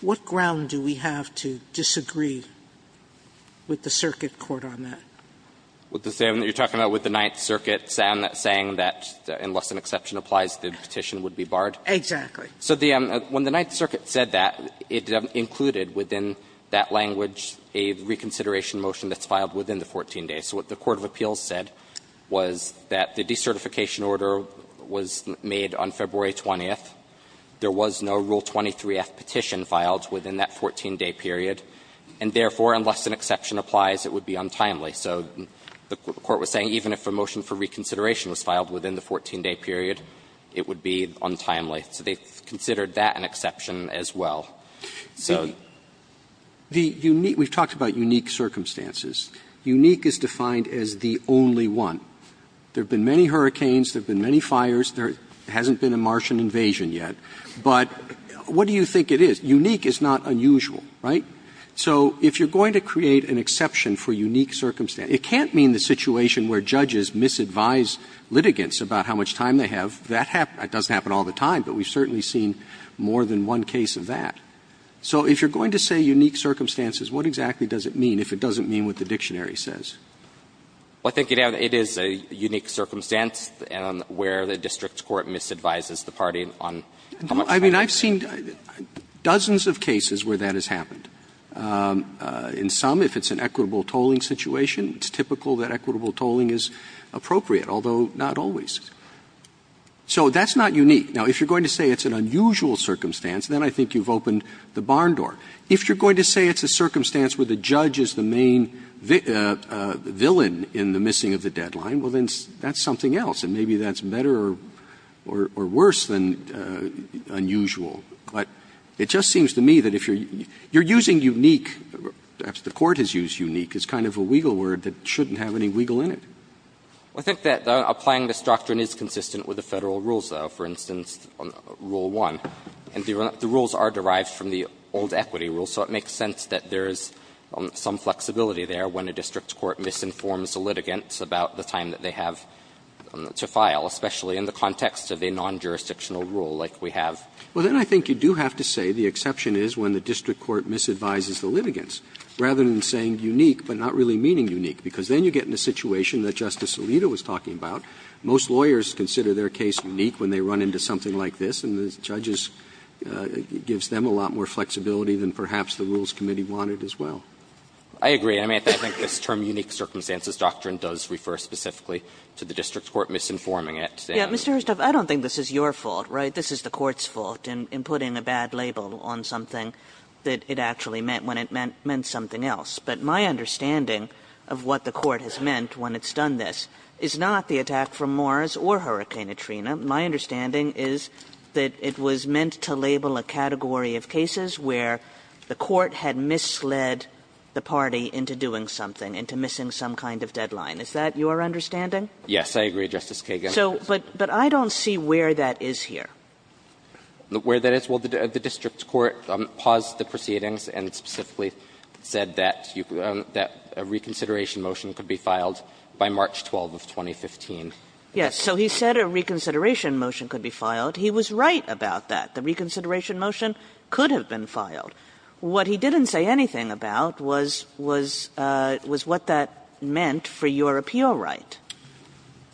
What ground do we have to disagree with the circuit court on that? With the same that you are talking about with the Ninth Circuit saying that unless an exception applies, the petition would be barred? Exactly. So the — when the Ninth Circuit said that, it included within that language a reconsideration motion that's filed within the 14 days. So what the court of appeals said was that the decertification order was made on February 20th. There was no Rule 23f petition filed within that 14-day period, and therefore, unless an exception applies, it would be untimely. So the court was saying even if a motion for reconsideration was filed within the 14-day period, it would be untimely. So they considered that an exception as well. So the unique — we've talked about unique circumstances. Unique is defined as the only one. There have been many hurricanes. There have been many fires. There hasn't been a Martian invasion yet. But what do you think it is? Unique is not unusual, right? So if you're going to create an exception for unique circumstances, it can't mean the situation where judges misadvise litigants about how much time they have. That doesn't happen all the time, but we've certainly seen more than one case of that. So if you're going to say unique circumstances, what exactly does it mean if it doesn't mean what the dictionary says? Well, I think it is a unique circumstance where the district court misadvises the party on how much time they have. I mean, I've seen dozens of cases where that has happened. In some, if it's an equitable tolling situation, it's typical that equitable tolling is appropriate, although not always. So that's not unique. Now, if you're going to say it's an unusual circumstance, then I think you've opened the barn door. If you're going to say it's a circumstance where the judge is the main villain in the missing of the deadline, well, then that's something else, and maybe that's better or worse than unusual. But it just seems to me that if you're using unique, perhaps the Court has used unique as kind of a weagle word that shouldn't have any weagle in it. I think that applying this doctrine is consistent with the Federal rules, though, for instance, Rule 1. And the rules are derived from the old equity rules, so it makes sense that there is some flexibility there when a district court misinforms a litigant about the time that they have to file, especially in the context of a non-jurisdictional rule like we have. Well, then I think you do have to say the exception is when the district court misadvises the litigants, rather than saying unique but not really meaning unique, because then you get in a situation that Justice Alito was talking about. Most lawyers consider their case unique when they run into something like this, and the judges, it gives them a lot more flexibility than perhaps the Rules Committee wanted as well. I agree. I mean, I think this term, unique circumstances doctrine, does refer specifically to the district court misinforming it. Kagan. Kagan. Kagan. Kagan. Kagan. Kagan. Kagan. Kagan. Kagan. Kagan. Kagan. Kagan. Kagan. Kagan. Kagan. Kagan. Kagan. Kagan. Number two is what you said, Justice Alito, of what the court has meant when it's done this, is not the attack from Morris or Hurricane Katrina. My understanding is that it was meant to label a category of cases where the court had misled the party into doing something, into missing some kind of deadline. Is that your understanding? Yes, I agree, Justice Kagan. But I don't see where that is here. Where that is, well, the district court paused the proceedings and specifically said that a reconsideration motion could be filed by March 12th of 2015. Yes, so he said a reconsideration motion could be filed. He was right about that. The reconsideration motion could have been filed. What he didn't say anything about was what that meant for your appeal right.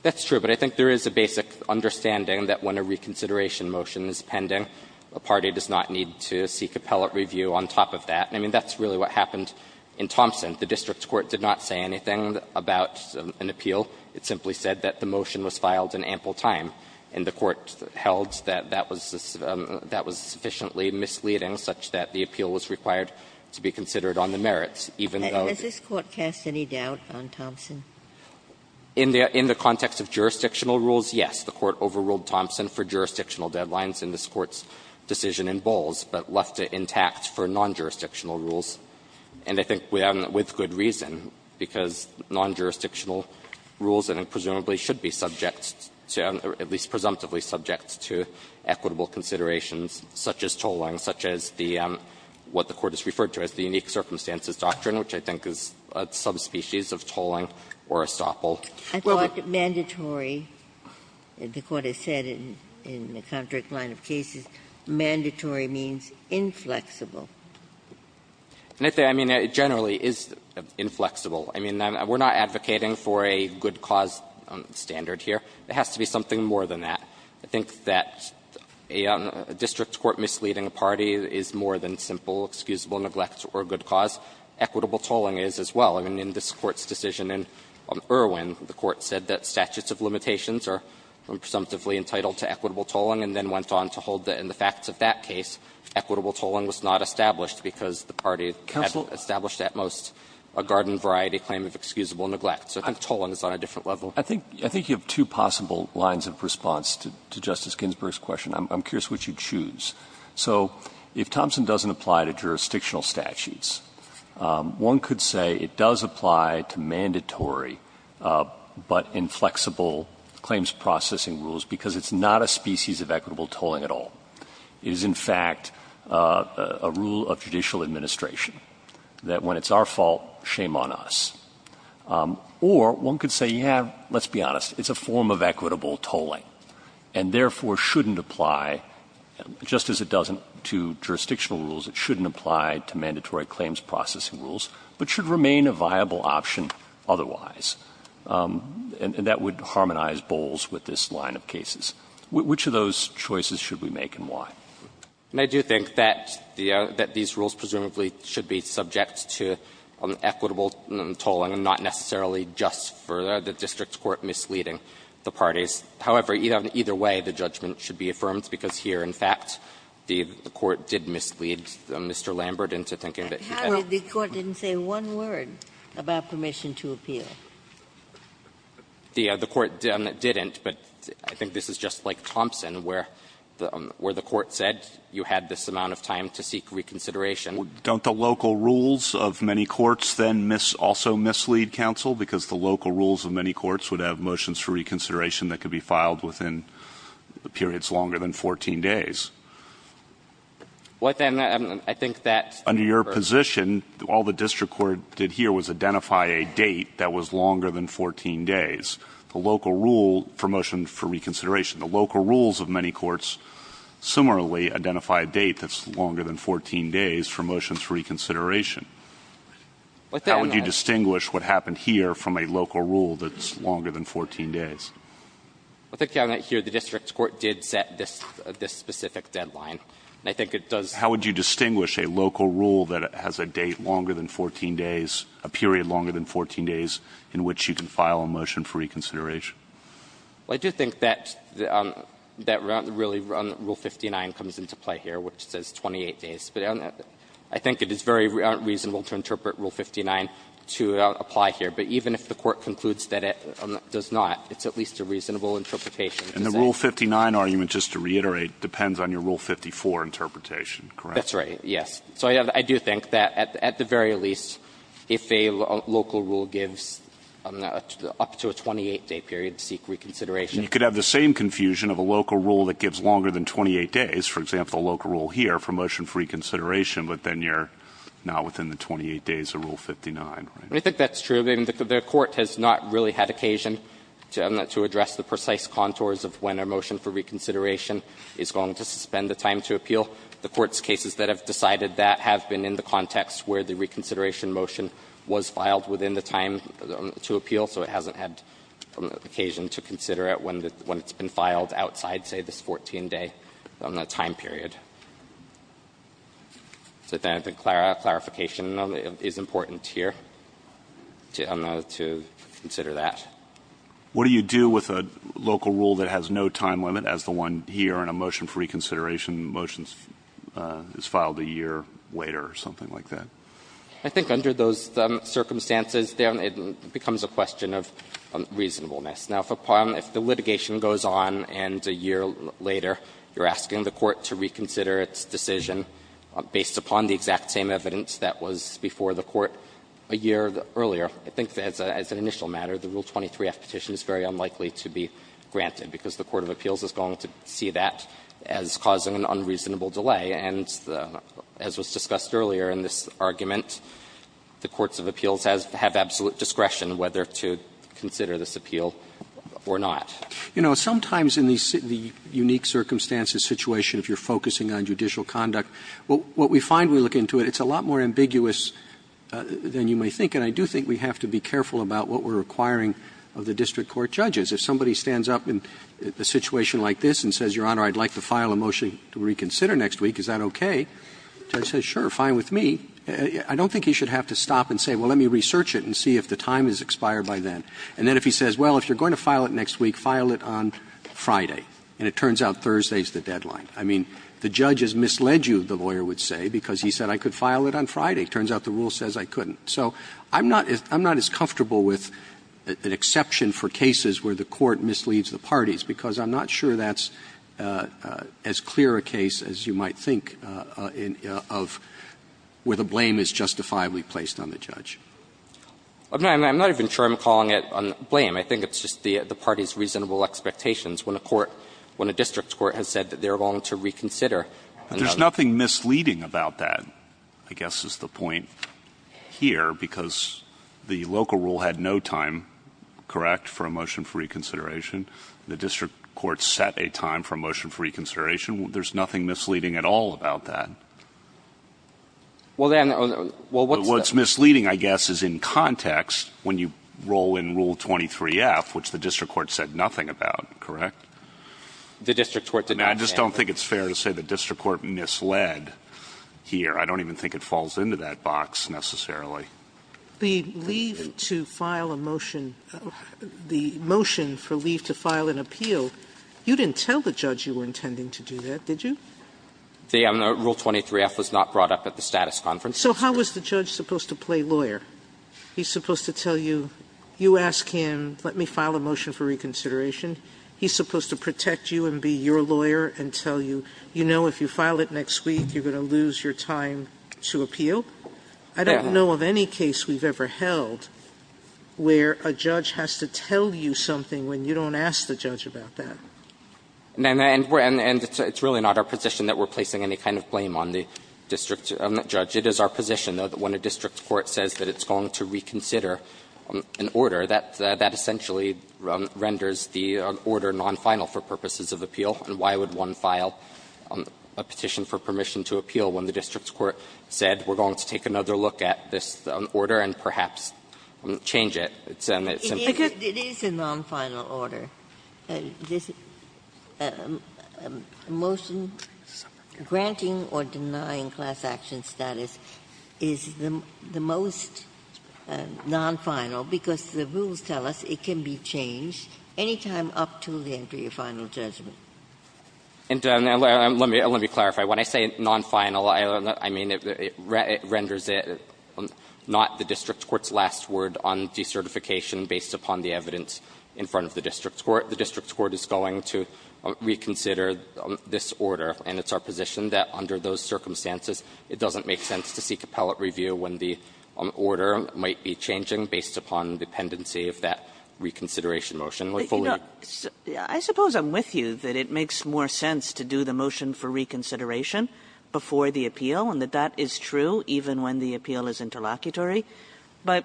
That's true, but I think there is a basic understanding that when a reconsideration motion is pending, a party does not need to seek appellate review on top of that. I mean, that's really what happened in Thompson. The district court did not say anything about an appeal. It simply said that the motion was filed in ample time, and the court held that that was sufficiently misleading such that the appeal was required to be considered on the merits, even though the district court was not. Ginsburg In the context of jurisdictional rules, yes, the court overruled Thompson for jurisdictional deadlines in this Court's decision in Bowles, but left it intact for non-jurisdictional rules. And I think with good reason, because non-jurisdictional rules presumably should be subject to, at least presumptively subject to, equitable considerations such as tolling, such as what the Court has referred to as the unique circumstances doctrine, which I think is a subspecies of tolling or estoppel. Ginsburg I thought mandatory, the Court has said in the contract line of cases, mandatory means inflexible. I mean, it generally is inflexible. I mean, we're not advocating for a good cause standard here. It has to be something more than that. I think that a district court misleading a party is more than simple excusable neglect or good cause. Equitable tolling is as well. I mean, in this Court's decision in Irwin, the Court said that statutes of limitations are presumptively entitled to equitable tolling, and then went on to hold that in the facts of that case, equitable tolling was not established because the party had established at most a garden-variety claim of excusable neglect. So I think tolling is on a different level. Breyer I think you have two possible lines of response to Justice Ginsburg's question. I'm curious which you'd choose. So if Thompson doesn't apply to jurisdictional statutes, one could say it does apply to mandatory but inflexible claims processing rules because it's not a species of equitable tolling at all. It is, in fact, a rule of judicial administration that when it's our fault, shame on us. Or one could say, yeah, let's be honest, it's a form of equitable tolling, and therefore shouldn't apply, just as it doesn't to jurisdictional rules, it shouldn't apply to mandatory claims processing rules, but should remain a viable option otherwise. And that would harmonize Bowles with this line of cases. Which of those choices should we make and why? Mr. Shah I do think that these rules presumably should be subject to equitable tolling and not necessarily just for the district court misleading the parties. However, either way, the judgment should be affirmed because here, in fact, the court did mislead Mr. Lambert into thinking that he had a Ginsburg However, the court didn't say one word about permission to appeal. Shah The court didn't, but I think this is just like Thompson, where the court said you had this amount of time to seek reconsideration. Roberts Don't the local rules of many courts then also mislead counsel? Because the local rules of many courts would have motions for reconsideration that could be filed within periods longer than 14 days. Shah Well, then, I think that Roberts Under your position, all the district court did here was identify a date that was longer than 14 days, the local rule for motion for reconsideration. The local rules of many courts similarly identify a date that's longer than 14 days for motions for reconsideration. Shah Well, then Roberts How would you distinguish what happened here from a local rule that's longer than 14 days? Shah I think here the district court did set this specific deadline, and I think it does Roberts How would you distinguish a local rule that has a date longer than 14 days, a period longer than 14 days, in which you can file a motion for reconsideration? Shah Well, I do think that that really, Rule 59 comes into play here, which says 28 days. But I think it is very reasonable to interpret Rule 59 to apply here. But even if the Court concludes that it does not, it's at least a reasonable interpretation. And the Rule 59 argument, just to reiterate, depends on your Rule 54 interpretation, correct? Shah That's right, yes. So I do think that at the very least, if a local rule gives up to a 28-day period to seek reconsideration. And you could have the same confusion of a local rule that gives longer than 28 days, for example, a local rule here for motion for reconsideration, but then you're not within the 28 days of Rule 59, right? Shah I think that's true. I mean, the Court has not really had occasion to address the precise contours of when a motion for reconsideration is going to suspend the time to appeal. The Court's cases that have decided that have been in the context where the reconsideration motion was filed within the time to appeal, so it hasn't had occasion to consider it when it's been filed outside, say, this 14-day time period. So then I think clarification is important here to consider that. What do you do with a local rule that has no time limit, as the one here in a motion for reconsideration, the motion is filed a year later or something like that? Shah I think under those circumstances, then it becomes a question of reasonableness. Now, if the litigation goes on and a year later you're asking the Court to reconsider its decision based upon the exact same evidence that was before the Court a year earlier, I think as an initial matter, the Rule 23-F petition is very unlikely to be granted, because the court of appeals is going to see that as causing an unreasonable delay, and as was discussed earlier in this argument, the courts of appeals have absolute discretion whether to consider this appeal or not. Roberts You know, sometimes in the unique circumstances situation, if you're focusing on judicial conduct, what we find when we look into it, it's a lot more ambiguous than you may think. And I do think we have to be careful about what we're requiring of the district court judges. If somebody stands up in a situation like this and says, Your Honor, I'd like to file a motion to reconsider next week, is that okay? The judge says, sure, fine with me. I don't think he should have to stop and say, well, let me research it and see if the time has expired by then. And then if he says, well, if you're going to file it next week, file it on Friday, and it turns out Thursday is the deadline. I mean, the judge has misled you, the lawyer would say, because he said I could file it on Friday. It turns out the Rule says I couldn't. So I'm not as comfortable with an exception for cases where the court misleads the parties, because I'm not sure that's as clear a case as you might think of where the blame is justifiably placed on the judge. I'm not even sure I'm calling it blame. I think it's just the parties' reasonable expectations. When a court, when a district court has said that they're willing to reconsider another. But there's nothing misleading about that, I guess, is the point here, because the local rule had no time correct for a motion for reconsideration. The district court set a time for a motion for reconsideration. There's nothing misleading at all about that. Well, then, what's misleading, I guess, is in context, when you roll in Rule 23F, which the district court said nothing about, correct? The district court did not say that. I just don't think it's fair to say the district court misled here. I don't even think it falls into that box, necessarily. The leave to file a motion, the motion for leave to file an appeal, you didn't tell the judge you were intending to do that, did you? The Rule 23F was not brought up at the status conference. So how was the judge supposed to play lawyer? He's supposed to tell you, you ask him, let me file a motion for reconsideration. He's supposed to protect you and be your lawyer and tell you, you know, if you file it next week, you're going to lose your time to appeal? I don't know of any case we've ever held where a judge has to tell you something when you don't ask the judge about that. And it's really not our position that we're placing any kind of blame on the district judge. It is our position, though, that when a district court says that it's going to reconsider an order, that essentially renders the order nonfinal for purposes of appeal. And why would one file a petition for permission to appeal when the district court said we're going to take another look at this order and perhaps change it? It's simply just the way it is. It's a nonfinal order. This motion granting or denying class action status is the most nonfinal, because the rules tell us it can be changed any time up to the end of your final judgment. And let me clarify. When I say nonfinal, I mean it renders it not the district court's last word on decertification based upon the evidence in front of the district court. The district court is going to reconsider this order, and it's our position that under those circumstances, it doesn't make sense to seek appellate review when the order might be changing based upon dependency of that reconsideration motion. Kagan. Kagan. I suppose I'm with you that it makes more sense to do the motion for reconsideration before the appeal, and that that is true even when the appeal is interlocutory. But,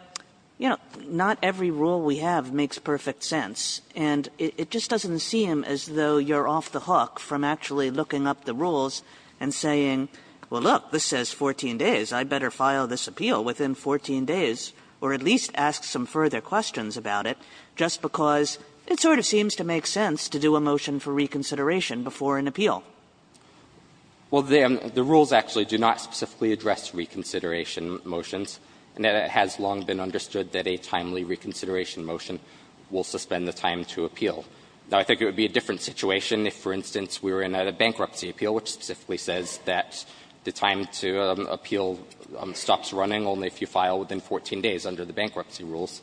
you know, not every rule we have makes perfect sense, and it just doesn't seem as though you're off the hook from actually looking up the rules and saying, well, look, this says 14 days. I'd better file this appeal within 14 days, or at least ask some further questions about it, just because it sort of seems to make sense to do a motion for reconsideration before an appeal. Well, the rules actually do not specifically address reconsideration motions. And it has long been understood that a timely reconsideration motion will suspend the time to appeal. Now, I think it would be a different situation if, for instance, we were in a bankruptcy appeal which specifically says that the time to appeal stops running only if you file within 14 days under the bankruptcy rules.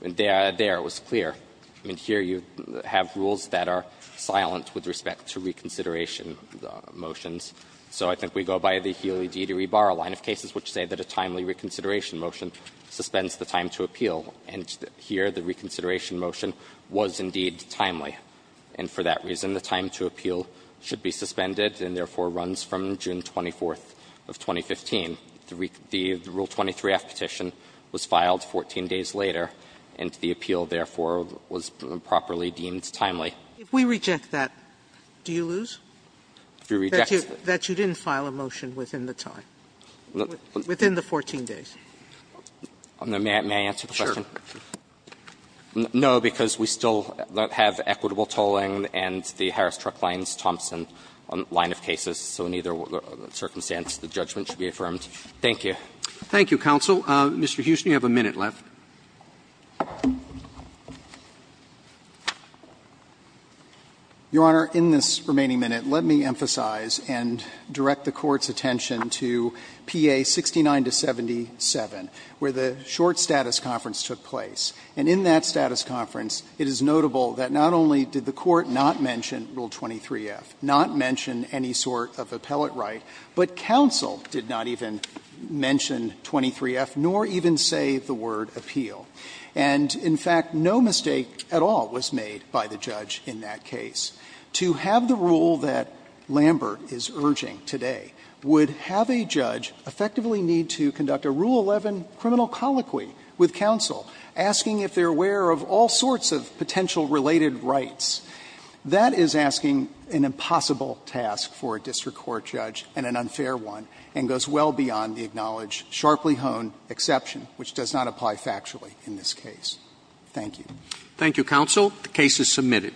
There it was clear. I mean, here you have rules that are silent with respect to reconsideration motions. So I think we go by the Healy-Deedy-Rebar line of cases which say that a timely reconsideration motion suspends the time to appeal. And here the reconsideration motion was indeed timely, and for that reason, the time to appeal should be suspended and therefore runs from June 24th of 2015. The Rule 23-F petition was filed 14 days later, and the appeal, therefore, was properly deemed timely. Sotomayor, if we reject that, do you lose? If we reject that? That you didn't file a motion within the time, within the 14 days? May I answer the question? Sure. No, because we still have equitable tolling and the Harris-Truck-Lines-Thompson line of cases, so in either circumstance, the judgment should be affirmed. Thank you. Thank you, counsel. Mr. Huston, you have a minute left. Your Honor, in this remaining minute, let me emphasize and direct the Court's attention to PA 69-77, where the short status conference took place. And in that status conference, it is notable that not only did the Court not mention Rule 23-F, not mention any sort of appellate right, but counsel did not even mention Rule 23-F, nor even say the word appeal. And in fact, no mistake at all was made by the judge in that case. To have the rule that Lambert is urging today would have a judge effectively need to conduct a Rule 11 criminal colloquy with counsel, asking if they're aware of all sorts of potential related rights. That is asking an impossible task for a district court judge and an unfair one, and goes well beyond the acknowledged, sharply honed exception, which does not apply factually in this case. Thank you. Thank you, counsel. The case is submitted.